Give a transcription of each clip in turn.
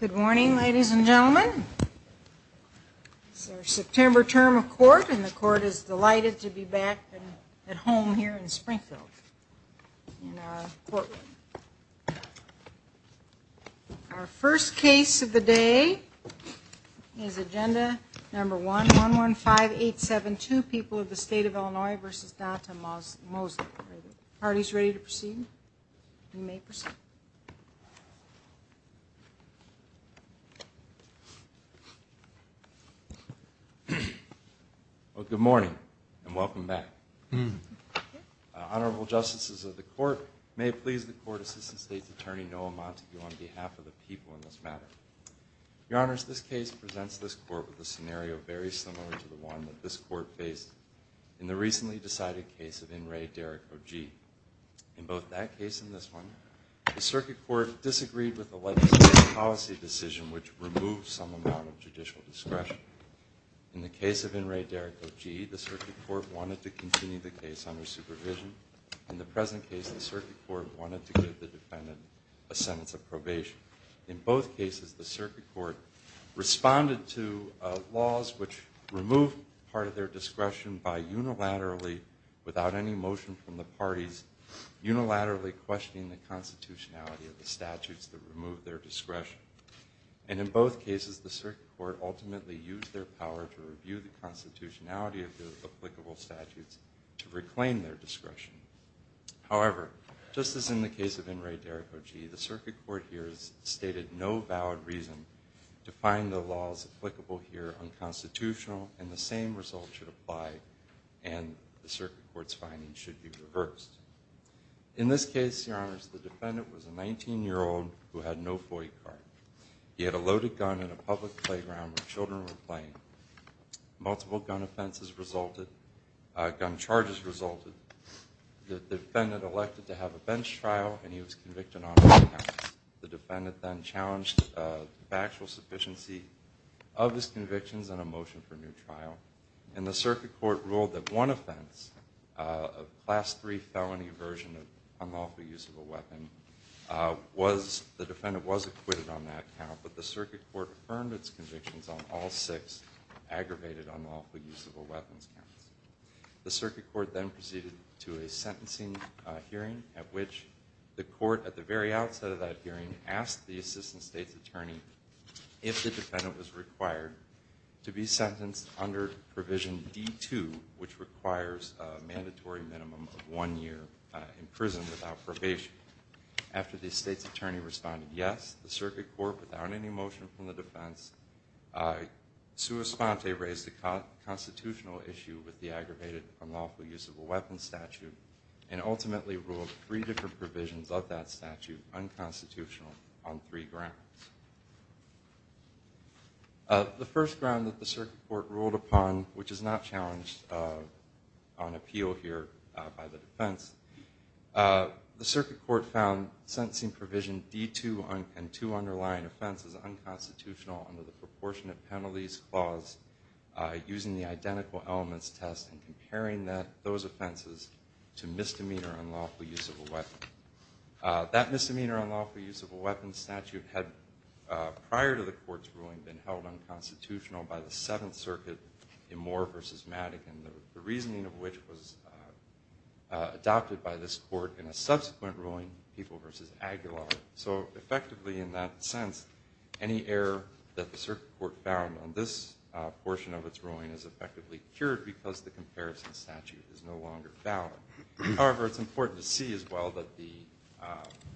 Good morning, ladies and gentlemen. It's our September term of court, and the court is delighted to be back at home here in Springfield in our courtroom. Our first case of the day is Agenda Number 1, 115872, People of the State of Illinois v. Datta Mosley. Are the parties ready to proceed? You may proceed. Well, good morning, and welcome back. Honorable Justices of the Court, may it please the Court Assistant State's Attorney Noah Montague on behalf of the people in this matter. Your Honors, this case presents this Court with a scenario very similar to the one that this Court faced in the recently decided case of In re. Derrick Ogee. In both that case and this one, the Circuit Court disagreed with the legislative policy decision, which removed some amount of judicial discretion. In the case of In re. Derrick Ogee, the Circuit Court wanted to continue the case under supervision. In the present case, the Circuit Court wanted to give the defendant a sentence of probation. In both cases, the Circuit Court responded to laws which removed part of their discretion by unilaterally, without any motion from the parties, unilaterally questioning the constitutionality of the statutes that removed their discretion. And in both cases, the Circuit Court ultimately used their power to review the constitutionality of the applicable statutes to reclaim their discretion. However, just as in the case of In re. Derrick Ogee, the Circuit Court here has stated no valid reason to find the laws applicable here unconstitutional and the same result should apply and the Circuit Court's findings should be reversed. In this case, Your Honors, the defendant was a 19-year-old who had no boy card. He had a loaded gun in a public playground where children were playing. Multiple gun offenses resulted, gun charges resulted. The defendant elected to have a bench trial and he was convicted on all counts. The defendant then challenged factual sufficiency of his convictions on a motion for a new trial. And the Circuit Court ruled that one offense, a Class III felony version of unlawful use of a weapon, the defendant was acquitted on that count, but the Circuit Court affirmed its convictions on all six aggravated unlawful use of a weapon counts. The Circuit Court then proceeded to a sentencing hearing at which the court, at the very outset of that hearing, asked the assistant state's attorney if the defendant was required to be sentenced under Provision D-2, which requires a mandatory minimum of one year in prison without probation. After the state's attorney responded yes, the Circuit Court, without any motion from the defense, sua sponte raised a constitutional issue with the aggravated unlawful use of a weapon statute and ultimately ruled three different provisions of that statute unconstitutional on three grounds. The first ground that the Circuit Court ruled upon, which is not challenged on appeal here by the defense, the Circuit Court found sentencing provision D-2 and two underlying offenses unconstitutional under the proportionate penalties clause using the identical elements test and comparing those offenses to misdemeanor unlawful use of a weapon. That misdemeanor unlawful use of a weapon statute had, prior to the court's ruling, been held unconstitutional by the Seventh Circuit in Moore v. Madigan, the reasoning of which was adopted by this court in a subsequent ruling, People v. Aguilar. So effectively, in that sense, any error that the Circuit Court found on this portion of its ruling is effectively cured because the comparison statute is no longer valid. However, it's important to see as well that the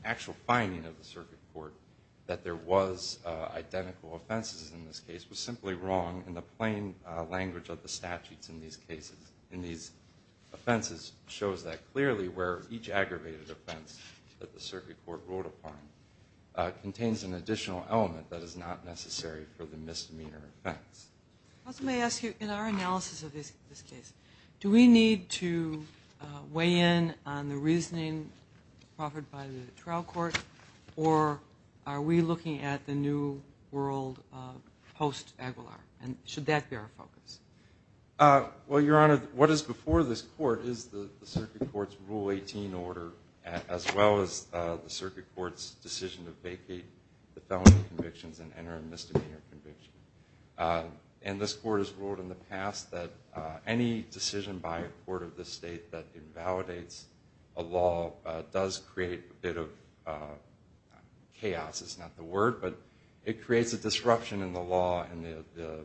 actual finding of the Circuit Court that there was identical offenses in this case was simply wrong, and the plain language of the statutes in these cases, in these offenses, shows that clearly where each aggravated offense that the Circuit Court ruled upon contains an additional element that is not necessary for the misdemeanor offense. I also may ask you, in our analysis of this case, do we need to weigh in on the reasoning offered by the trial court, or are we looking at the new world post-Aguilar, and should that be our focus? Well, Your Honor, what is before this court is the Circuit Court's Rule 18 order, as well as the Circuit Court's decision to vacate the felony convictions and enter a misdemeanor conviction. And this court has ruled in the past that any decision by a court of this state that invalidates a law does create a bit of chaos, is not the word, but it creates a disruption in the law and the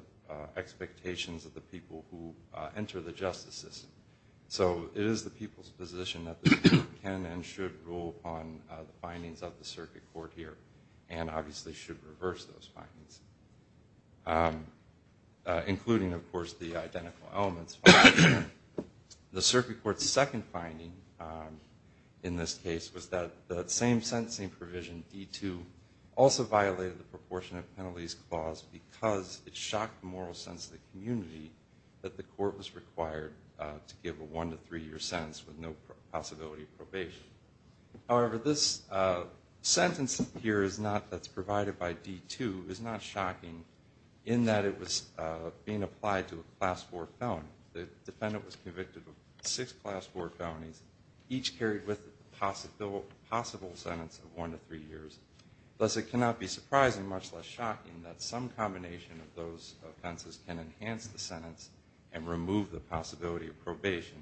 expectations of the people who enter the justice system. So it is the people's position that the Court can and should rule upon the findings of the Circuit Court here, and obviously should reverse those findings, including, of course, the identical elements. The Circuit Court's second finding in this case was that the same sentencing provision, D-2, also violated the proportionate penalties clause because it shocked the moral sense of the community that the court was required to give a one- to three-year sentence with no possibility of probation. However, this sentence here that's provided by D-2 is not shocking in that it was being applied to a Class 4 felony. The defendant was convicted of six Class 4 felonies, each carried with a possible sentence of one to three years. Thus, it cannot be surprising, much less shocking, that some combination of those offenses can enhance the sentence and remove the possibility of probation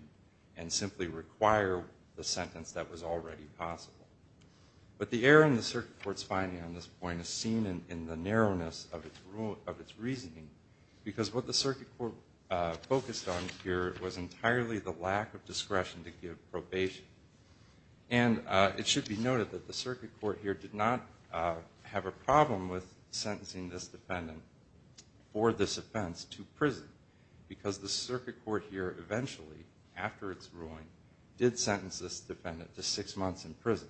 and simply require the sentence that was already possible. But the error in the Circuit Court's finding on this point is seen in the narrowness of its reasoning because what the Circuit Court focused on here was entirely the lack of discretion to give probation. And it should be noted that the Circuit Court here did not have a problem with sentencing this defendant for this offense to prison because the Circuit Court here eventually, after its ruling, did sentence this defendant to six months in prison.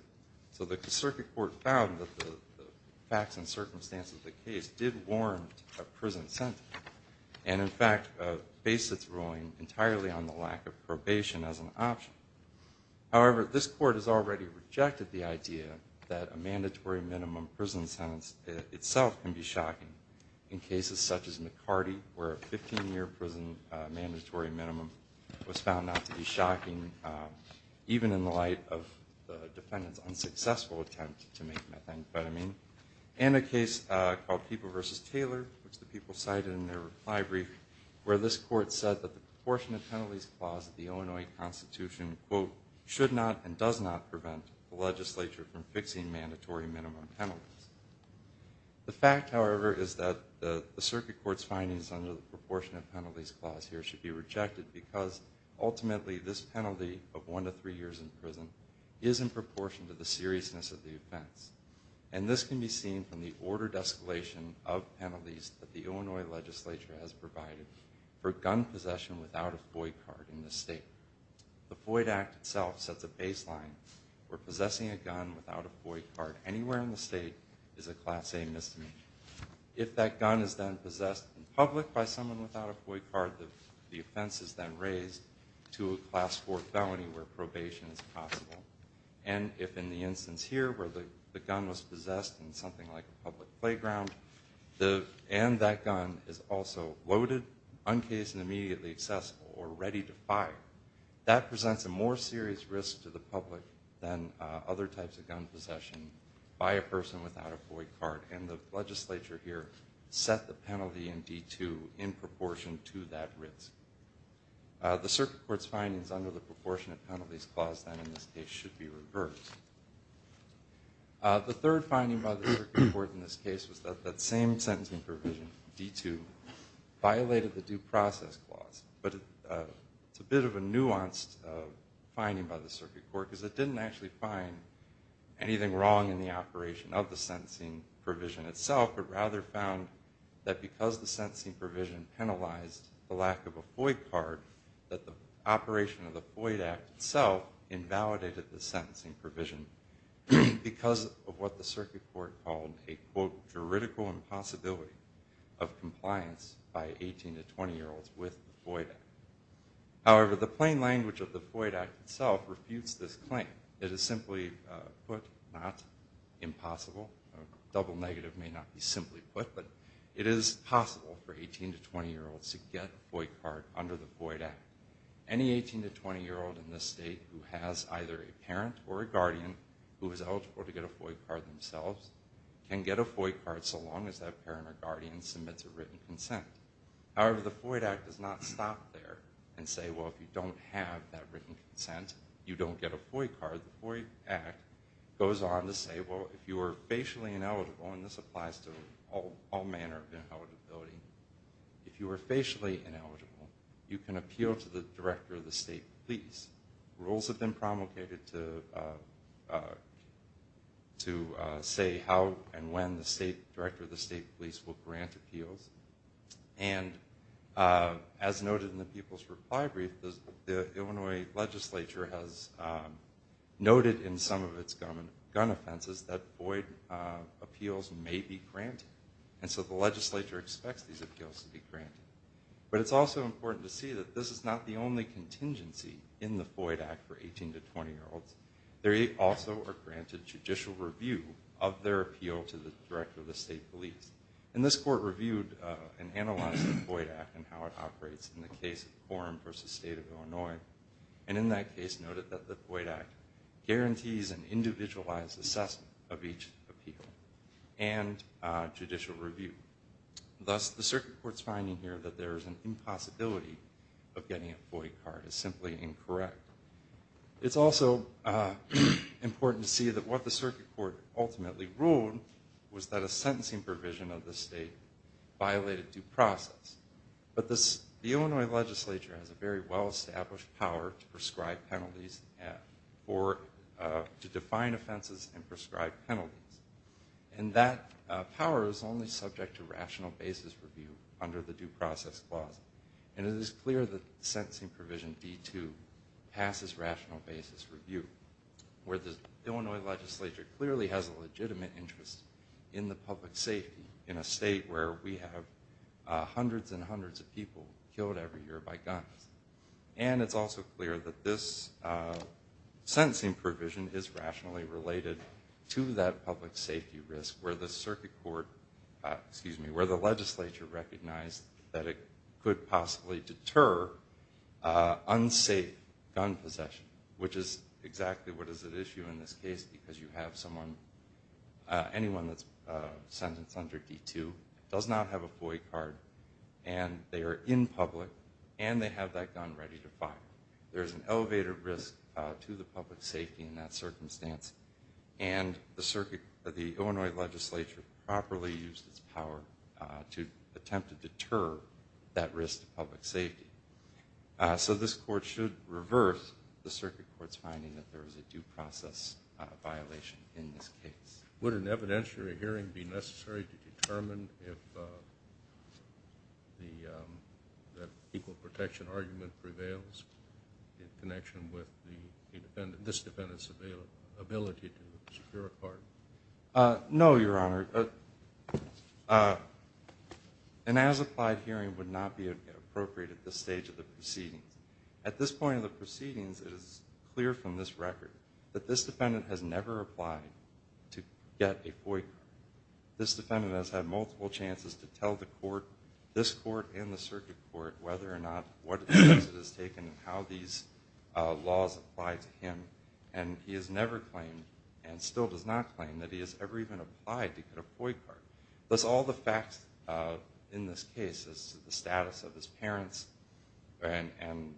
So the Circuit Court found that the facts and circumstances of the case did warrant a prison sentence and, in fact, based its ruling entirely on the lack of probation as an option. However, this Court has already rejected the idea that a mandatory minimum prison sentence itself can be shocking in cases such as McCarty, where a 15-year prison mandatory minimum was found not to be shocking, even in the light of the defendant's unsuccessful attempt to make methamphetamine, and a case called People v. Taylor, which the people cited in their reply brief, where this Court said that the proportionate penalties clause of the Illinois Constitution, quote, should not and does not prevent the legislature from fixing mandatory minimum penalties. The fact, however, is that the Circuit Court's findings under the proportionate penalties clause here should be rejected because, ultimately, this penalty of one to three years in prison is in proportion to the seriousness of the offense. And this can be seen from the ordered escalation of penalties that the Illinois legislature has provided for gun possession without a FOIA card in this state. The FOIA Act itself sets a baseline where possessing a gun without a FOIA card anywhere in the state is a Class A misdemeanor. If that gun is then possessed in public by someone without a FOIA card, the offense is then raised to a Class 4 felony where probation is possible. And if in the instance here where the gun was possessed in something like a public playground and that gun is also loaded, uncased, and immediately accessible or ready to fire, that presents a more serious risk to the public than other types of gun possession by a person without a FOIA card. And the legislature here set the penalty in D2 in proportion to that risk. The Circuit Court's findings under the Proportionate Penalties Clause, then, in this case, should be reversed. The third finding by the Circuit Court in this case was that that same sentencing provision, D2, violated the Due Process Clause. But it's a bit of a nuanced finding by the Circuit Court because it didn't actually find anything wrong in the operation of the sentencing provision itself, but rather found that because the sentencing provision penalized the lack of a FOIA card, that the operation of the FOIA Act itself invalidated the sentencing provision because of what the Circuit Court called a, quote, juridical impossibility of compliance by 18- to 20-year-olds with the FOIA Act. However, the plain language of the FOIA Act itself refutes this claim. It is simply put, not impossible. A double negative may not be simply put, but it is possible for 18- to 20-year-olds to get a FOIA card under the FOIA Act. Any 18- to 20-year-old in this state who has either a parent or a guardian who is eligible to get a FOIA card themselves can get a FOIA card so long as that parent or guardian submits a written consent. However, the FOIA Act does not stop there and say, well, if you don't have that written consent, you don't get a FOIA card. The FOIA Act goes on to say, well, if you are facially ineligible, and this applies to all manner of ineligibility, if you are facially ineligible, you can appeal to the director of the state police. Rules have been promulgated to say how and when the director of the state police will grant appeals. And as noted in the people's reply brief, the Illinois legislature has noted in some of its gun offenses that FOIA appeals may be granted. And so the legislature expects these appeals to be granted. But it's also important to see that this is not the only contingency in the FOIA Act for 18- to 20-year-olds. There also are granted judicial review of their appeal to the director of the state police. And this court reviewed and analyzed the FOIA Act and how it operates in the case of Quorum v. State of Illinois. And in that case noted that the FOIA Act guarantees an individualized assessment of each appeal and judicial review. Thus, the circuit court's finding here that there is an impossibility of getting a FOIA card is simply incorrect. It's also important to see that what the circuit court ultimately ruled was that a sentencing provision of the state violated due process. But the Illinois legislature has a very well-established power to prescribe penalties or to define offenses and prescribe penalties. And that power is only subject to rational basis review under the Due Process Clause. And it is clear that the sentencing provision B-2 passes rational basis review, where the Illinois legislature clearly has a legitimate interest in the public safety in a state where we have hundreds and hundreds of people killed every year by guns. And it's also clear that this sentencing provision is rationally related to that public safety risk where the circuit court, excuse me, where the legislature recognized that it could possibly deter unsafe gun possession, which is exactly what is at issue in this case because you have someone, anyone that's sentenced under D-2 does not have a FOIA card, and they are in public, and they have that gun ready to fire. There is an elevated risk to the public safety in that circumstance, and the circuit, the Illinois legislature properly used its power to attempt to deter that risk to public safety. So this court should reverse the circuit court's finding that there is a due process violation in this case. Would an evidentiary hearing be necessary to determine if the equal protection argument prevails in connection with this defendant's ability to secure a pardon? No, Your Honor. Your Honor, an as-applied hearing would not be appropriate at this stage of the proceedings. At this point of the proceedings, it is clear from this record that this defendant has never applied to get a FOIA card. This defendant has had multiple chances to tell the court, this court and the circuit court, whether or not what steps it has taken and how these laws apply to him, and he has never claimed and still does not claim that he has ever even applied to get a FOIA card. Thus, all the facts in this case as to the status of his parents and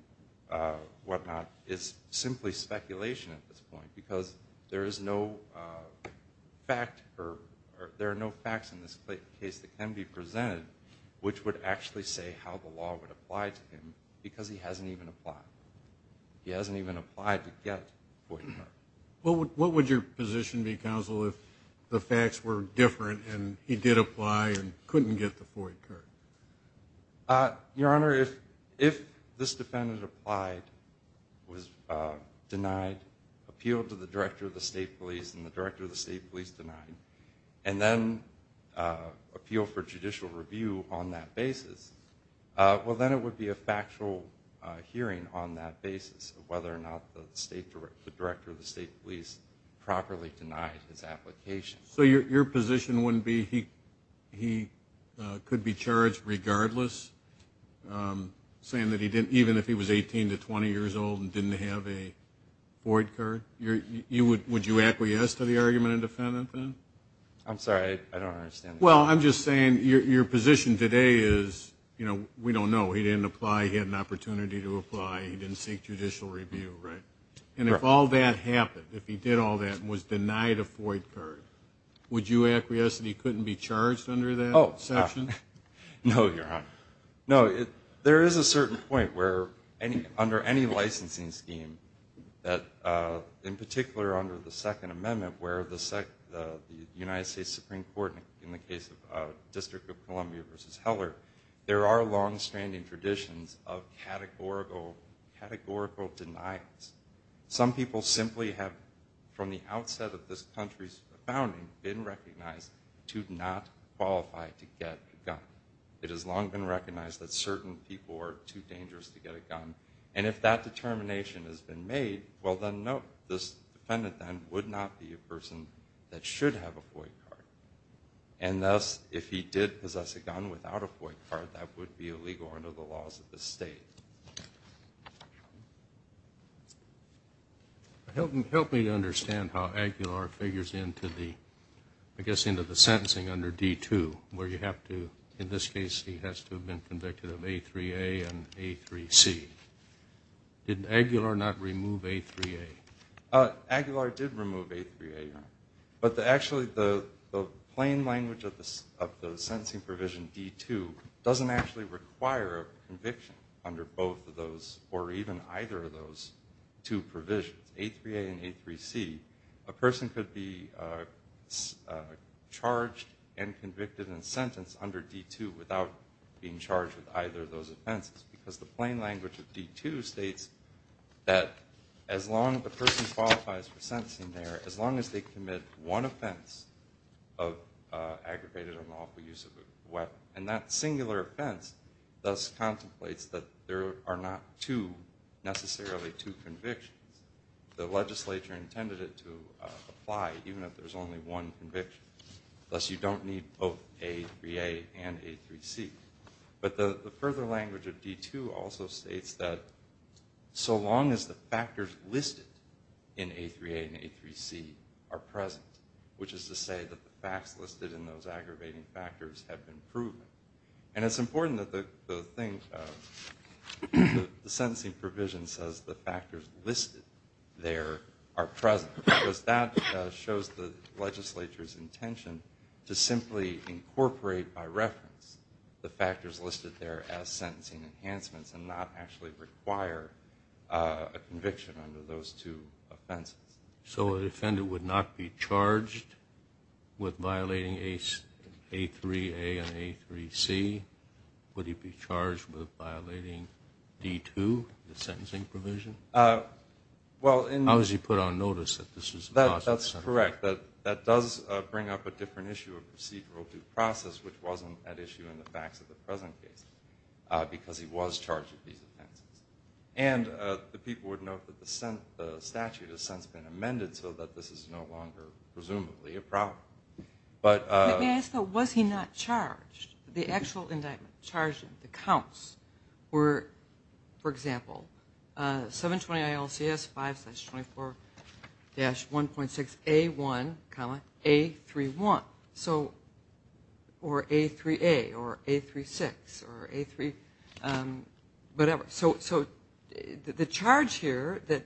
whatnot is simply speculation at this point because there is no fact or there are no facts in this case that can be presented which would actually say how the law would apply to him because he hasn't even applied. He hasn't even applied to get a FOIA card. What would your position be, Counsel, if the facts were different and he did apply and couldn't get the FOIA card? Your Honor, if this defendant applied, was denied, appealed to the Director of the State Police and the Director of the State Police denied, and then appealed for judicial review on that basis, well, then it would be a factual hearing on that basis of whether or not the Director of the State Police properly denied his application. So your position wouldn't be he could be charged regardless, saying that even if he was 18 to 20 years old and didn't have a FOIA card? Would you acquiesce to the argument of the defendant then? I'm sorry. I don't understand. Well, I'm just saying your position today is, you know, we don't know. He didn't apply. He had an opportunity to apply. He didn't seek judicial review, right? And if all that happened, if he did all that and was denied a FOIA card, would you acquiesce that he couldn't be charged under that section? No, Your Honor. No, there is a certain point where under any licensing scheme, in particular under the Second Amendment, where the United States Supreme Court, in the case of District of Columbia v. Heller, there are long-standing traditions of categorical denials. Some people simply have, from the outset of this country's founding, been recognized to not qualify to get a gun. It has long been recognized that certain people are too dangerous to get a gun. And if that determination has been made, well, then no, this defendant then would not be a person that should have a FOIA card. And thus, if he did possess a gun without a FOIA card, that would be illegal under the laws of the state. Help me to understand how Aguilar figures into the, I guess, into the sentencing under D-2, where you have to, in this case, he has to have been convicted of A-3A and A-3C. Did Aguilar not remove A-3A? Aguilar did remove A-3A. But actually the plain language of the sentencing provision D-2 doesn't actually require a conviction under both of those or even either of those two provisions, A-3A and A-3C. A person could be charged and convicted and sentenced under D-2 without being charged with either of those offenses because the plain language of D-2 states that as long as the person qualifies for sentencing there, as long as they commit one offense of aggravated or unlawful use of a weapon, and that singular offense thus contemplates that there are not two, necessarily two convictions. The legislature intended it to apply even if there's only one conviction, thus you don't need both A-3A and A-3C. But the further language of D-2 also states that so long as the factors listed in A-3A and A-3C are present, which is to say that the facts listed in those aggravating factors have been proved. And it's important that the thing, the sentencing provision, says the factors listed there are present because that shows the legislature's intention to simply incorporate by reference the factors listed there as sentencing enhancements and not actually require a conviction under those two offenses. So the offender would not be charged with violating A-3A and A-3C? Would he be charged with violating D-2, the sentencing provision? How is he put on notice that this is possible? That's correct. That does bring up a different issue of procedural due process, which wasn't an issue in the facts of the present case because he was charged with these offenses. And the people would note that the statute has since been amended so that this is no longer presumably a problem. But may I ask though, was he not charged? The actual indictment charged him, the counts, were, for example, 720 ILCS 5-24-1.6A1, A-3-1 or A-3A or A-3-6 or A-3 whatever. So the charge here that,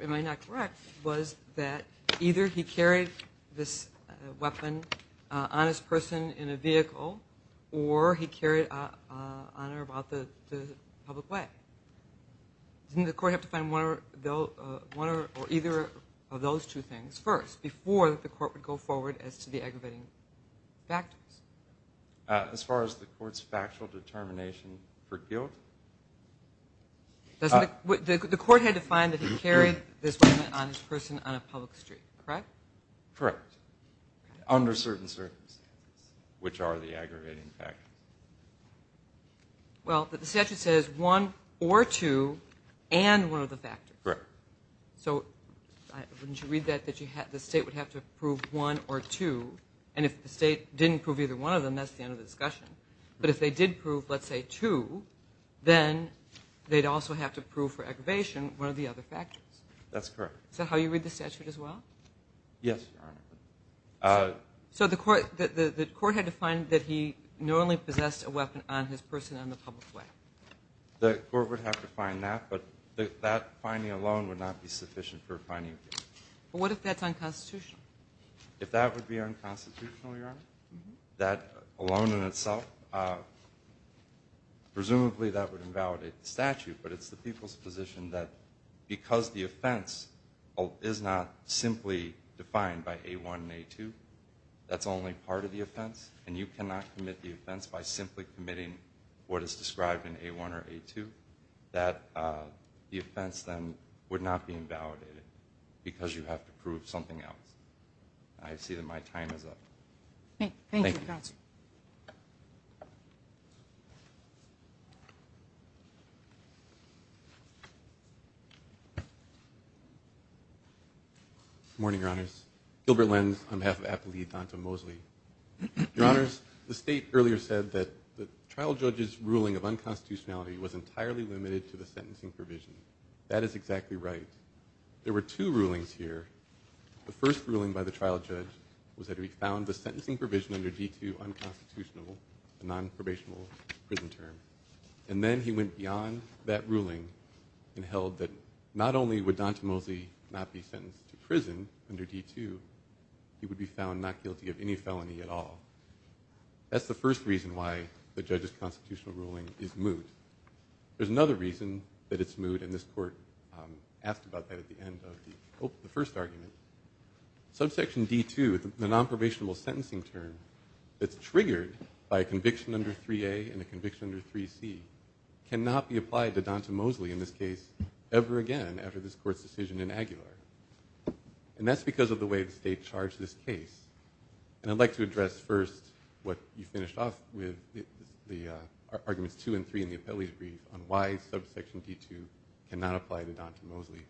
am I not correct, was that either he carried this weapon on his person in a vehicle or he carried it on or about the public way? Didn't the court have to find one or either of those two things first before the court would go forward as to the aggravating factors? As far as the court's factual determination for guilt? The court had to find that he carried this weapon on his person on a public street, correct? Correct. Under certain circumstances, which are the aggravating factors. Well, the statute says one or two and one of the factors. Correct. So wouldn't you read that the state would have to prove one or two? And if the state didn't prove either one of them, that's the end of the discussion. But if they did prove, let's say, two, then they'd also have to prove for aggravation one of the other factors. That's correct. Is that how you read the statute as well? Yes, Your Honor. So the court had to find that he not only possessed a weapon on his person on the public way? The court would have to find that, but that finding alone would not be sufficient for a finding of guilt. But what if that's unconstitutional? If that would be unconstitutional, Your Honor, that alone in itself, presumably that would invalidate the statute, but it's the people's position that because the offense is not simply defined by A1 and A2, that's only part of the offense, and you cannot commit the offense by simply committing what is described in A1 or A2, that the offense then would not be invalidated because you have to prove something else. I see that my time is up. Thank you. Thank you. Good morning, Your Honors. Gilbert Lenz on behalf of Appellee Donta Mosley. Your Honors, the State earlier said that the trial judge's ruling of unconstitutionality was entirely limited to the sentencing provision. That is exactly right. There were two rulings here. The first ruling by the trial judge was that he found the sentencing provision under D2 unconstitutional, a nonprobational prison term, and then he went beyond that ruling and held that not only would Donta Mosley not be sentenced to prison under D2, he would be found not guilty of any felony at all. That's the first reason why the judge's constitutional ruling is moot. There's another reason that it's moot, and this Court asked about that at the end of the first argument. Subsection D2, the nonprobational sentencing term, that's triggered by a conviction under 3A and a conviction under 3C, cannot be applied to Donta Mosley in this case ever again after this Court's decision in Aguilar. And that's because of the way the State charged this case. And I'd like to address first what you finished off with, the arguments 2 and 3 in the appellee's brief on why subsection D2 cannot apply to Donta Mosley.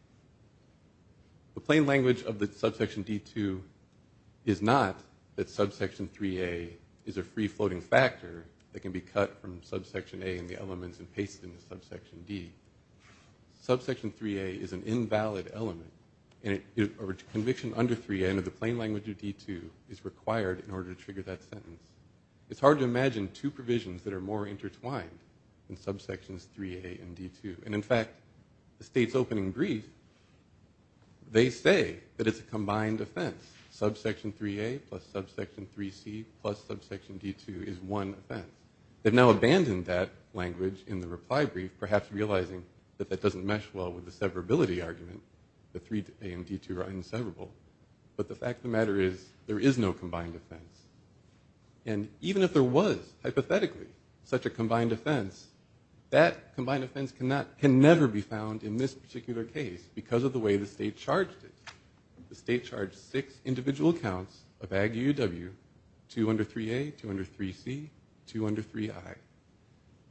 The plain language of the subsection D2 is not that subsection 3A is a free-floating factor that can be cut from subsection A and the elements and pasted into subsection D. Subsection 3A is an invalid element, and a conviction under 3N of the plain language of D2 is required in order to trigger that sentence. It's hard to imagine two provisions that are more intertwined than subsections 3A and D2. And, in fact, the State's opening brief, they say that it's a combined offense. Subsection 3A plus subsection 3C plus subsection D2 is one offense. They've now abandoned that language in the reply brief, perhaps realizing that that doesn't mesh well with the severability argument, that 3A and D2 are inseverable. But the fact of the matter is there is no combined offense. And even if there was, hypothetically, such a combined offense, that combined offense can never be found in this particular case because of the way the State charged it. The State charged six individual counts of Ag UUW, two under 3A, two under 3C, two under 3I.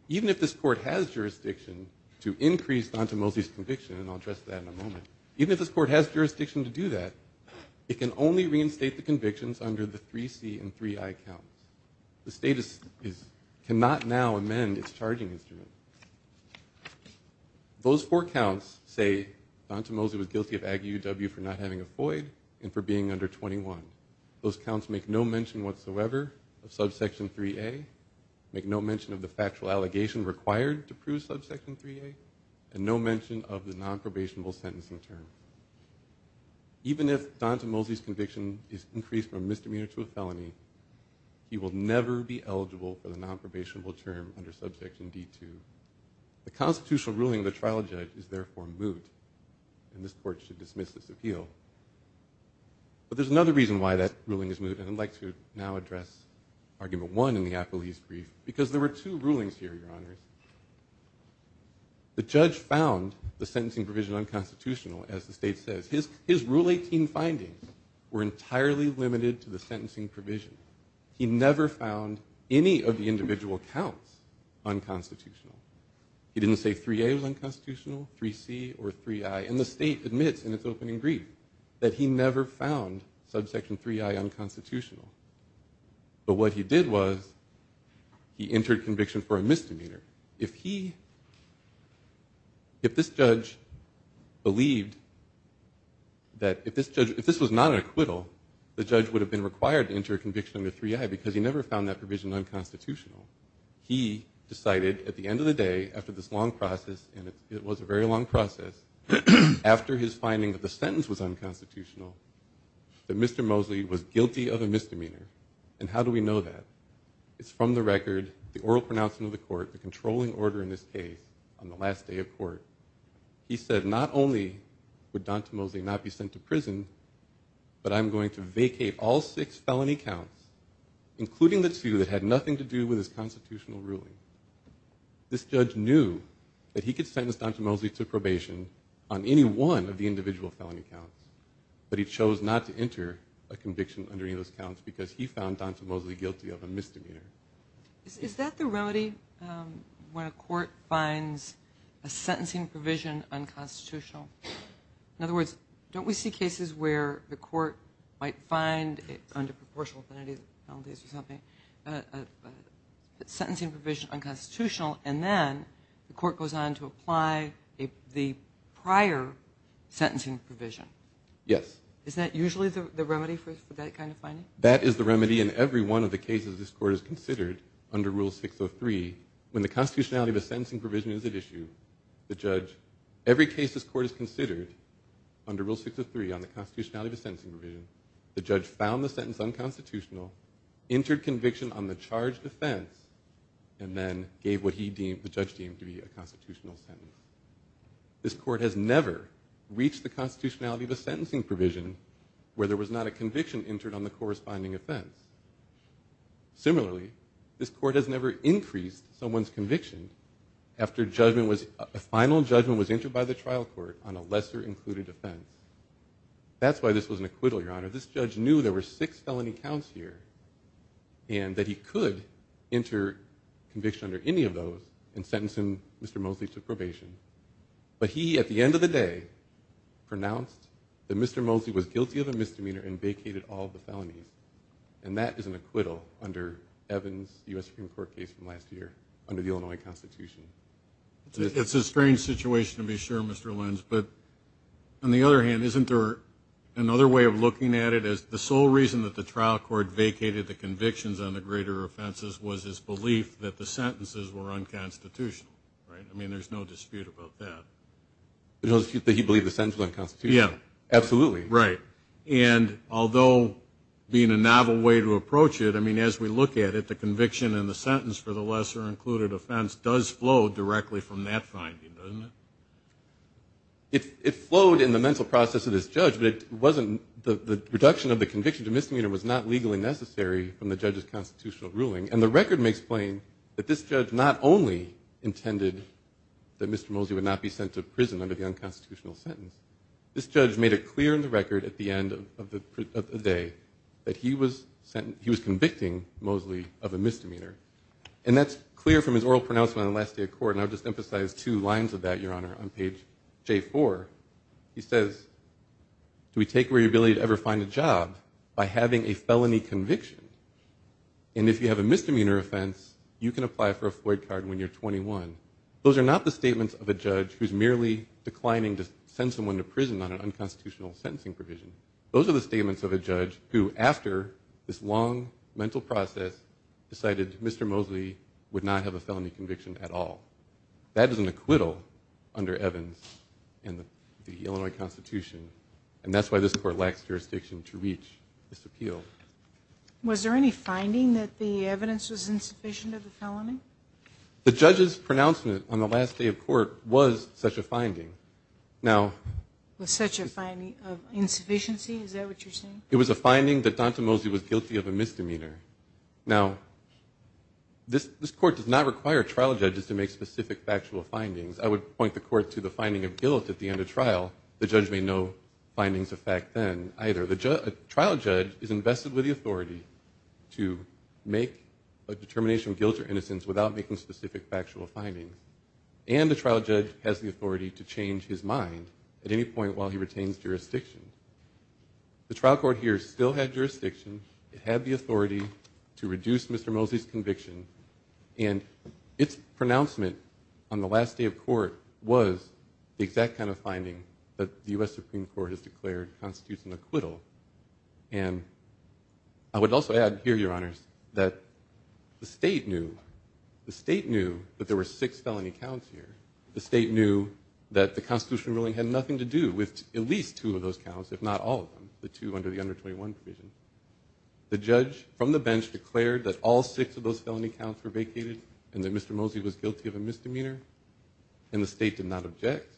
Even if this Court has jurisdiction to increase Donta Mosley's conviction, and I'll address that in a moment, even if this Court has jurisdiction to do that, it can only reinstate the convictions under the 3C and 3I counts. The State cannot now amend its charging instrument. Those four counts say Donta Mosley was guilty of Ag UUW for not having a FOID and for being under 21. Those counts make no mention whatsoever of subsection 3A, make no mention of the factual allegation required to prove subsection 3A, and no mention of the nonprobationable sentencing term. Even if Donta Mosley's conviction is increased from a misdemeanor to a felony, he will never be eligible for the nonprobationable term under subsection D2. The constitutional ruling of the trial judge is therefore moot, and this Court should dismiss this appeal. But there's another reason why that ruling is moot, and I'd like to now address argument one in the appellee's brief, because there were two rulings here, Your Honors. The judge found the sentencing provision unconstitutional, as the State says. His Rule 18 findings were entirely limited to the sentencing provision. He never found any of the individual counts unconstitutional. He didn't say 3A was unconstitutional, 3C or 3I, and the State admits in its opening brief that he never found subsection 3I unconstitutional. But what he did was he entered conviction for a misdemeanor. If he, if this judge believed that, if this judge, if this was not an acquittal, the judge would have been required to enter a conviction under 3I because he never found that provision unconstitutional. He decided at the end of the day, after this long process, and it was a very long process, after his finding that the sentence was a misdemeanor. And how do we know that? It's from the record, the oral pronouncement of the court, the controlling order in this case, on the last day of court. He said not only would D'Antimozzi not be sent to prison, but I'm going to vacate all six felony counts, including the two that had nothing to do with his constitutional ruling. This judge knew that he could sentence D'Antimozzi to probation on any one of the individual felony counts, but he chose not to enter a conviction under any of those counts because he found D'Antimozzi guilty of a misdemeanor. Is that the remedy when a court finds a sentencing provision unconstitutional? In other words, don't we see cases where the court might find, under proportional penalties or something, a sentencing provision unconstitutional, and then the court goes on to apply the prior sentencing provision? Yes. Is that usually the remedy for that kind of finding? That is the remedy in every one of the cases this court has considered under Rule 603. When the constitutionality of a sentencing provision is at issue, the judge, every case this court has considered under Rule 603 on the constitutionality of a sentencing provision, the judge found the sentence unconstitutional, entered conviction on the charged offense, and then gave what the judge deemed to be a constitutional sentence. This court has never reached the constitutionality of a sentencing provision where there was not a conviction entered on the corresponding offense. Similarly, this court has never increased someone's conviction after a final judgment was entered by the trial court on a lesser included offense. That's why this was an acquittal, Your Honor. This judge knew there were six felony counts here and that he could enter conviction under any of those and sentence him, Mr. Mosley, to probation. But he, at the end of the day, pronounced that Mr. Mosley was guilty of a misdemeanor and vacated all of the felonies. And that is an acquittal under Evans' U.S. Supreme Court case from last year under the Illinois Constitution. It's a strange situation to be sure, Mr. Lenz. But on the other hand, isn't there another way of looking at it? The sole reason that the trial court vacated the convictions on the greater offenses was his belief that the sentences were unconstitutional, right? I mean, there's no dispute about that. The dispute that he believed the sentences were unconstitutional? Yeah. Absolutely. Right. And although being a novel way to approach it, I mean, as we look at it, the conviction and the sentence for the lesser included offense does flow directly from that finding, doesn't it? It flowed in the mental process of this judge, but it wasn't the reduction of the conviction to misdemeanor was not legally necessary from the judge's constitutional ruling. And the record makes plain that this judge not only intended that Mr. Mosley would not be sent to prison under the unconstitutional sentence. This judge made it clear in the record at the end of the day that he was convicting Mosley of a misdemeanor. And that's clear from his oral pronouncement on the last day of court, and I'll just emphasize two lines of that, Your Honor, on page J4. He says, do we take away your ability to ever find a job by having a felony conviction? And if you have a misdemeanor offense, you can apply for a Floyd card when you're 21. Those are not the statements of a judge who's merely declining to send someone to prison on an unconstitutional sentencing provision. Those are the statements of a judge who, after this long mental process, decided Mr. Mosley would not have a felony conviction at all. That is an acquittal under Evans and the Illinois Constitution, and that's why this court lacks jurisdiction to reach this appeal. Was there any finding that the evidence was insufficient of the felony? The judge's pronouncement on the last day of court was such a finding. Was such a finding of insufficiency? Is that what you're saying? It was a finding that Donta Mosley was guilty of a misdemeanor. Now, this court does not require trial judges to make specific factual findings. I would point the court to the finding of guilt at the end of trial. The judge made no findings of fact then either. A trial judge is invested with the authority to make a determination of guilt or innocence without making specific factual findings, and the trial judge has the authority to change his mind at any point while he retains jurisdiction. The trial court here still had jurisdiction. It had the authority to reduce Mr. Mosley's conviction, and its pronouncement on the last day of court was the exact kind of finding that the U.S. Supreme Court has declared constitutes an acquittal. And I would also add here, Your Honors, that the state knew. The state knew that there were six felony counts here. The state knew that the constitutional ruling had nothing to do with at least two of those counts, if not all of them, the two under the under 21 provision. The judge from the bench declared that all six of those felony counts were vacated and that Mr. Mosley was guilty of a misdemeanor, and the state did not object,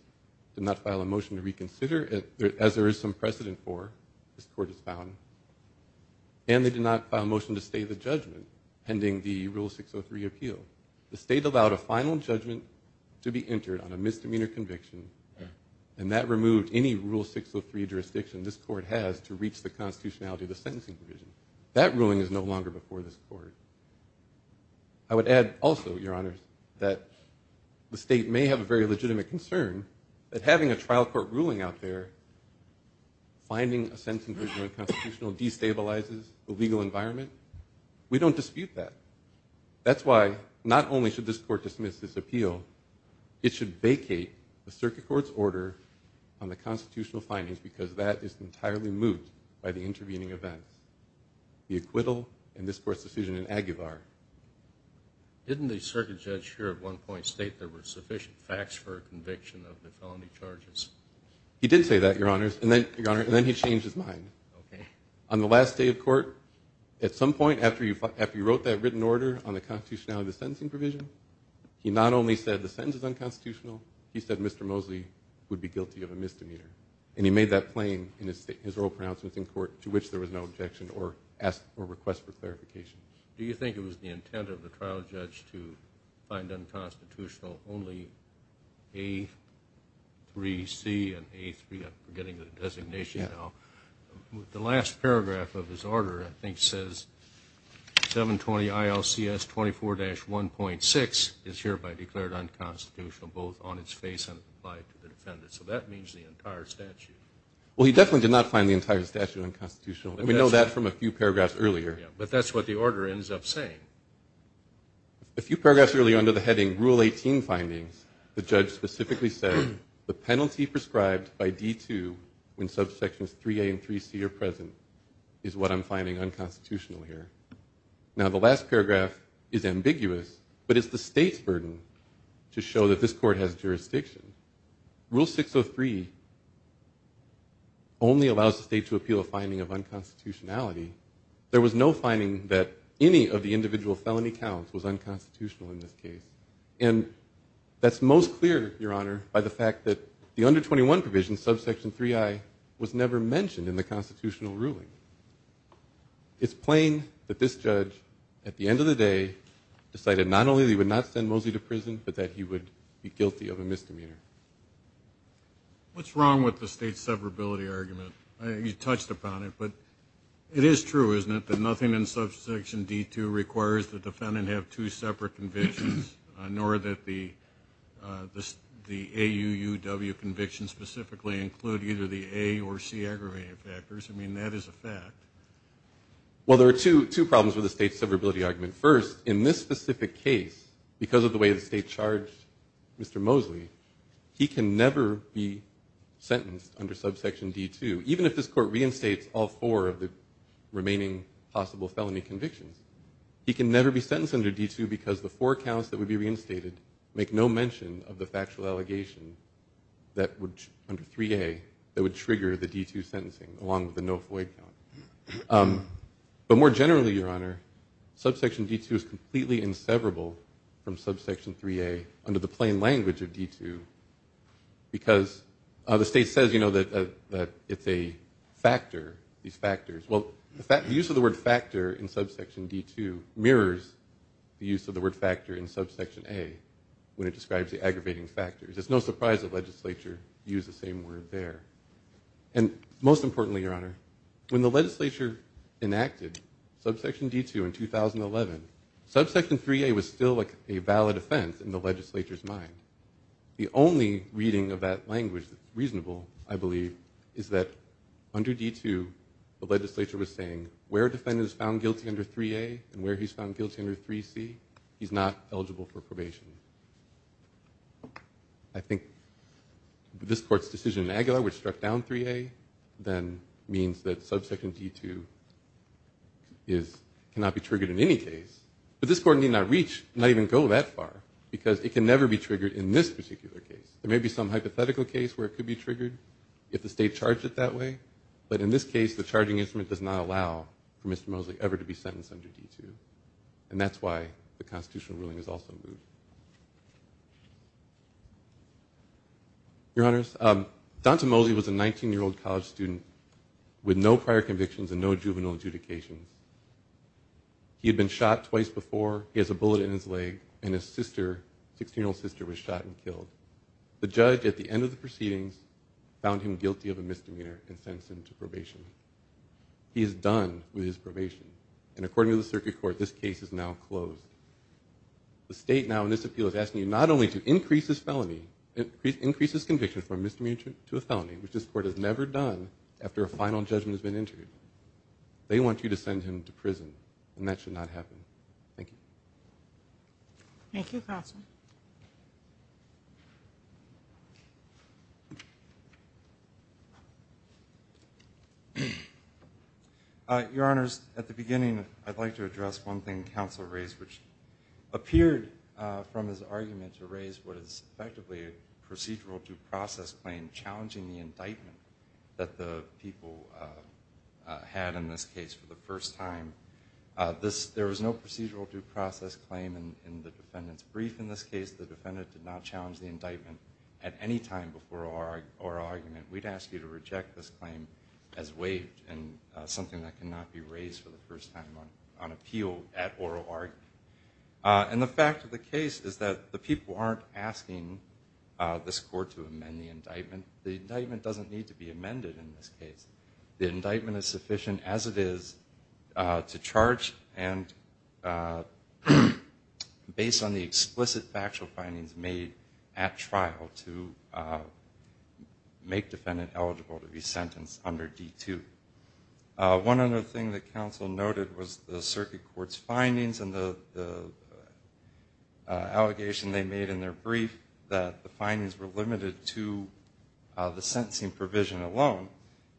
did not file a motion to reconsider, as there is some precedent for, this court has found, and they did not file a motion to stay the judgment pending the Rule 603 appeal. The state allowed a final judgment to be entered on a misdemeanor conviction, and that removed any Rule 603 jurisdiction this court has to reach the sentencing provision. That ruling is no longer before this court. I would add also, Your Honors, that the state may have a very legitimate concern that having a trial court ruling out there, finding a sentencing provision in the constitutional destabilizes the legal environment. We don't dispute that. That's why not only should this court dismiss this appeal, it should vacate the circuit court's order on the constitutional findings because that is entirely moved by the intervening events, the acquittal and this court's decision in Aguilar. Didn't the circuit judge here at one point state there were sufficient facts for a conviction of the felony charges? He did say that, Your Honors, and then he changed his mind. Okay. On the last day of court, at some point, after he wrote that written order on the constitutionality of the sentencing provision, he not only said the sentence is unconstitutional, he said Mr. Mosley would be guilty of a misdemeanor, and he made that plain in his oral pronouncements in court, to which there was no objection or request for clarification. Do you think it was the intent of the trial judge to find unconstitutional only A3C and A3, I'm forgetting the designation now. The last paragraph of his order, I think, says 720 ILCS 24-1.6 is hereby declared unconstitutional, both on its face and applied to the defendant. So that means the entire statute. Well, he definitely did not find the entire statute unconstitutional, and we know that from a few paragraphs earlier. But that's what the order ends up saying. A few paragraphs earlier under the heading Rule 18 findings, the judge specifically said the penalty prescribed by D2 when subsections 3A and 3C are present is what I'm finding unconstitutional here. Now, the last paragraph is ambiguous, but it's the state's burden to show that this court has jurisdiction. Rule 603 only allows the state to appeal a finding of unconstitutionality. There was no finding that any of the individual felony counts was unconstitutional in this case. And that's most clear, Your Honor, by the fact that the under 21 provision, subsection 3I, was never mentioned in the constitutional ruling. It's plain that this judge, at the end of the day, decided not only that he would not send Mosley to prison, but that he would be guilty of a misdemeanor. What's wrong with the state severability argument? You touched upon it, but it is true, isn't it, that nothing in subsection D2 requires the defendant to have two separate convictions, nor that the AUUW convictions specifically include either the A or C aggravated factors? I mean, that is a fact. Well, there are two problems with the state severability argument. First, in this specific case, because of the way the state charged Mr. Mosley, he can never be sentenced under subsection D2, even if this court reinstates all four of the remaining possible felony convictions. He can never be sentenced under D2 because the four counts that would be reinstated make no mention of the factual allegation under 3A that would trigger the D2 sentencing, along with the no FOID count. But more generally, Your Honor, subsection D2 is completely inseverable from subsection 3A under the plain language of D2 because the state says, you know, that it's a factor, these factors. Well, the use of the word factor in subsection D2 mirrors the use of the word factor in subsection A when it describes the aggravating factors. It's no surprise the legislature used the same word there. And most importantly, Your Honor, when the legislature enacted subsection D2 in 2011, subsection 3A was still a valid offense in the legislature's mind. The only reading of that language that's reasonable, I believe, is that under D2, the legislature was saying, where a defendant is found guilty under 3A and where he's found guilty under 3C, he's not eligible for probation. I think this Court's decision in Aguilar, which struck down 3A, then means that subsection D2 is, cannot be triggered in any case. But this Court need not reach, not even go that far, because it can never be triggered in this particular case. There may be some hypothetical case where it could be triggered if the state charged it that way, but in this case, the charging instrument does not allow for Mr. Mosley ever to be sentenced under D2. And that's why the constitutional ruling is also moved. Your Honors, Donta Mosley was a 19-year-old college student with no prior convictions and no juvenile adjudications. He had been shot twice before, he has a bullet in his leg, and his sister, 16-year-old sister, was shot and killed. The judge, at the end of the proceedings, found him guilty of a misdemeanor and sent him to probation. He is done with his probation. And according to the Circuit Court, this case is now closed. The state now, in this appeal, is asking you not only to increase his felony, increase his conviction from a misdemeanor to a felony, which this Court has never done after a final judgment has been entered. They want you to send him to prison. Thank you. Thank you, Counsel. Your Honors, at the beginning, I'd like to address one thing Counsel raised, which appeared from his argument to raise what is effectively a procedural due process claim challenging the indictment that the people had in this case for the first time. There was no procedural due process claim in the defendant's brief in this case. In this case, the defendant did not challenge the indictment at any time before oral argument. We'd ask you to reject this claim as waived and something that cannot be raised for the first time on appeal at oral argument. And the fact of the case is that the people aren't asking this Court to amend the indictment. The indictment doesn't need to be amended in this case. The indictment is sufficient as it is to charge, and based on the explicit factual findings made at trial to make defendant eligible to be sentenced under D2. One other thing that Counsel noted was the Circuit Court's findings and the allegation they made in their brief that the findings were limited to the sentencing provision alone.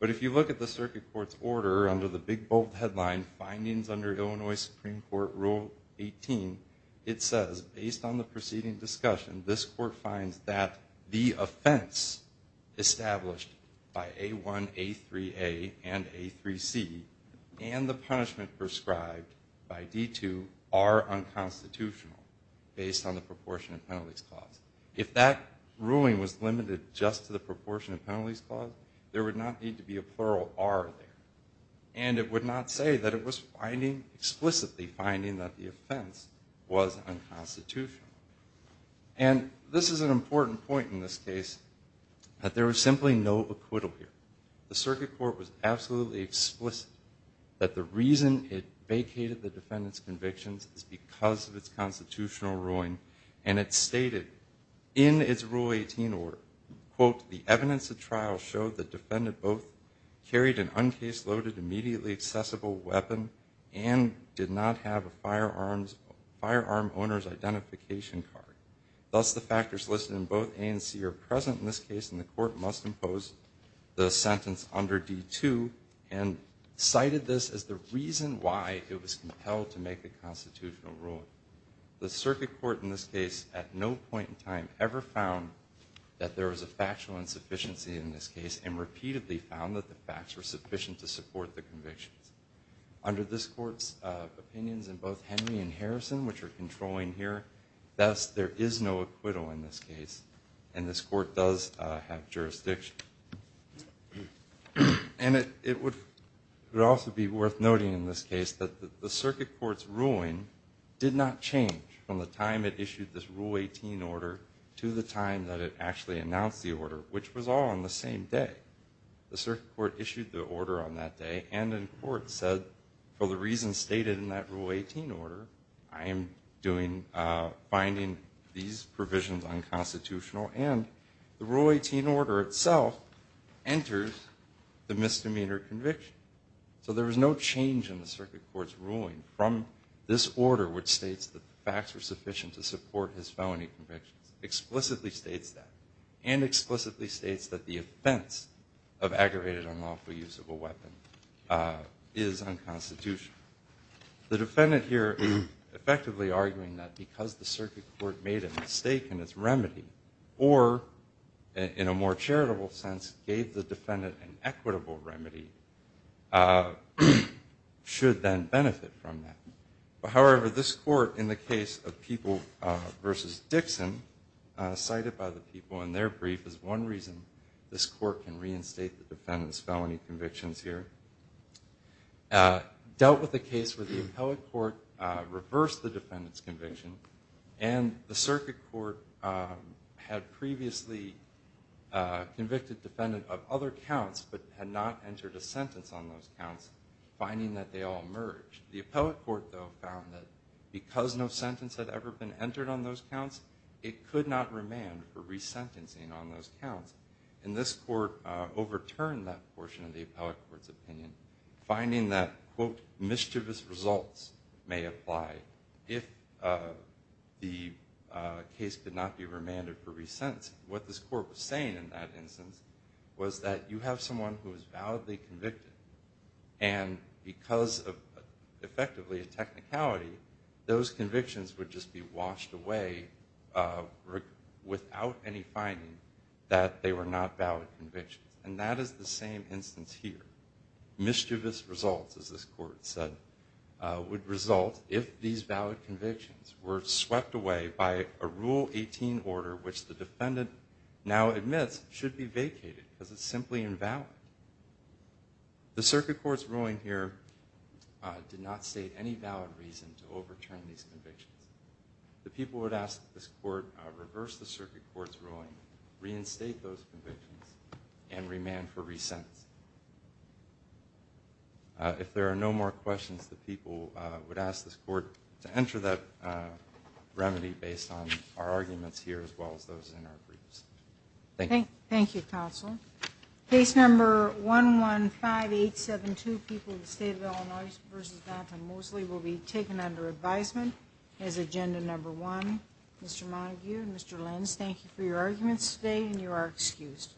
But if you look at the Circuit Court's order under the big bold headline findings under Illinois Supreme Court Rule 18, it says based on the preceding discussion, this Court finds that the offense established by A1, A3A and A3C and the punishment prescribed by D2 are unconstitutional based on the proportion of penalties clause. If that ruling was limited just to the proportion of penalties clause, there would not need to be a plural R there. And it would not say that it was finding explicitly finding that the offense was unconstitutional. And this is an important point in this case, that there was simply no acquittal here. The Circuit Court was absolutely explicit that the reason it vacated the defendant's convictions is because of its constitutional ruling. And it stated in its Rule 18 order, quote, the evidence of trial showed the defendant both carried an uncase loaded immediately accessible weapon and did not have a firearm owner's identification card. Thus the factors listed in both A and C are present in this case and the court must impose the sentence under D2 and cited this as the reason why it was compelled to make the constitutional ruling. The Circuit Court in this case at no point in time ever found that there was a factual insufficiency in this case and repeatedly found that the facts were sufficient to support the convictions. Under this court's opinions in both Henry and Harrison, which are controlling here, thus there is no acquittal in this case. And this court does have jurisdiction. And it would also be worth noting in this case that the Circuit Court's ruling did not change from the time it issued this Rule 18 order to the time that it actually announced the order, which was all on the same day. The Circuit Court issued the order on that day and in court said, for the reasons stated in that Rule 18 order, I am finding these provisions unconstitutional. And the Rule 18 order itself enters the misdemeanor conviction. So there was no change in the Circuit Court's ruling from this order, which states that the facts were sufficient to support his felony convictions, explicitly states that, and explicitly states that the offense of aggravated unlawful use of a weapon is unconstitutional. The defendant here is effectively arguing that because the Circuit Court made a mistake in its remedy or, in a more charitable sense, gave the defendant an equitable remedy, should then benefit from that. However, this court, in the case of People v. Dixon, cited by the People in their brief, is one reason this court can reinstate the defendant's felony convictions here. Dealt with a case where the Appellate Court reversed the defendant's conviction and the Circuit Court had previously convicted defendant of other counts but had not entered a sentence on those counts, finding that they all merged. The Appellate Court, though, found that because no sentence had ever been entered on those counts, it could not remand for resentencing on those counts. And this court overturned that portion of the Appellate Court's opinion, finding that, quote, mischievous results may apply if the case could not be remanded for resentencing. What this court was saying in that instance was that you have someone who is effectively a technicality, those convictions would just be washed away without any finding that they were not valid convictions. And that is the same instance here. Mischievous results, as this court said, would result if these valid convictions were swept away by a Rule 18 order which the defendant now admits should be vacated because it's simply invalid. The Circuit Court's ruling here did not state any valid reason to overturn these convictions. The people would ask that this court reverse the Circuit Court's ruling, reinstate those convictions, and remand for resentencing. If there are no more questions, the people would ask this court to enter that remedy based on our arguments here as well as those in our briefs. Thank you. Thank you, Counsel. Case No. 115872, People of the State of Illinois v. Jonathan Mosley, will be taken under advisement as Agenda No. 1. Mr. Montague and Mr. Lenz, thank you for your arguments today and you are excused.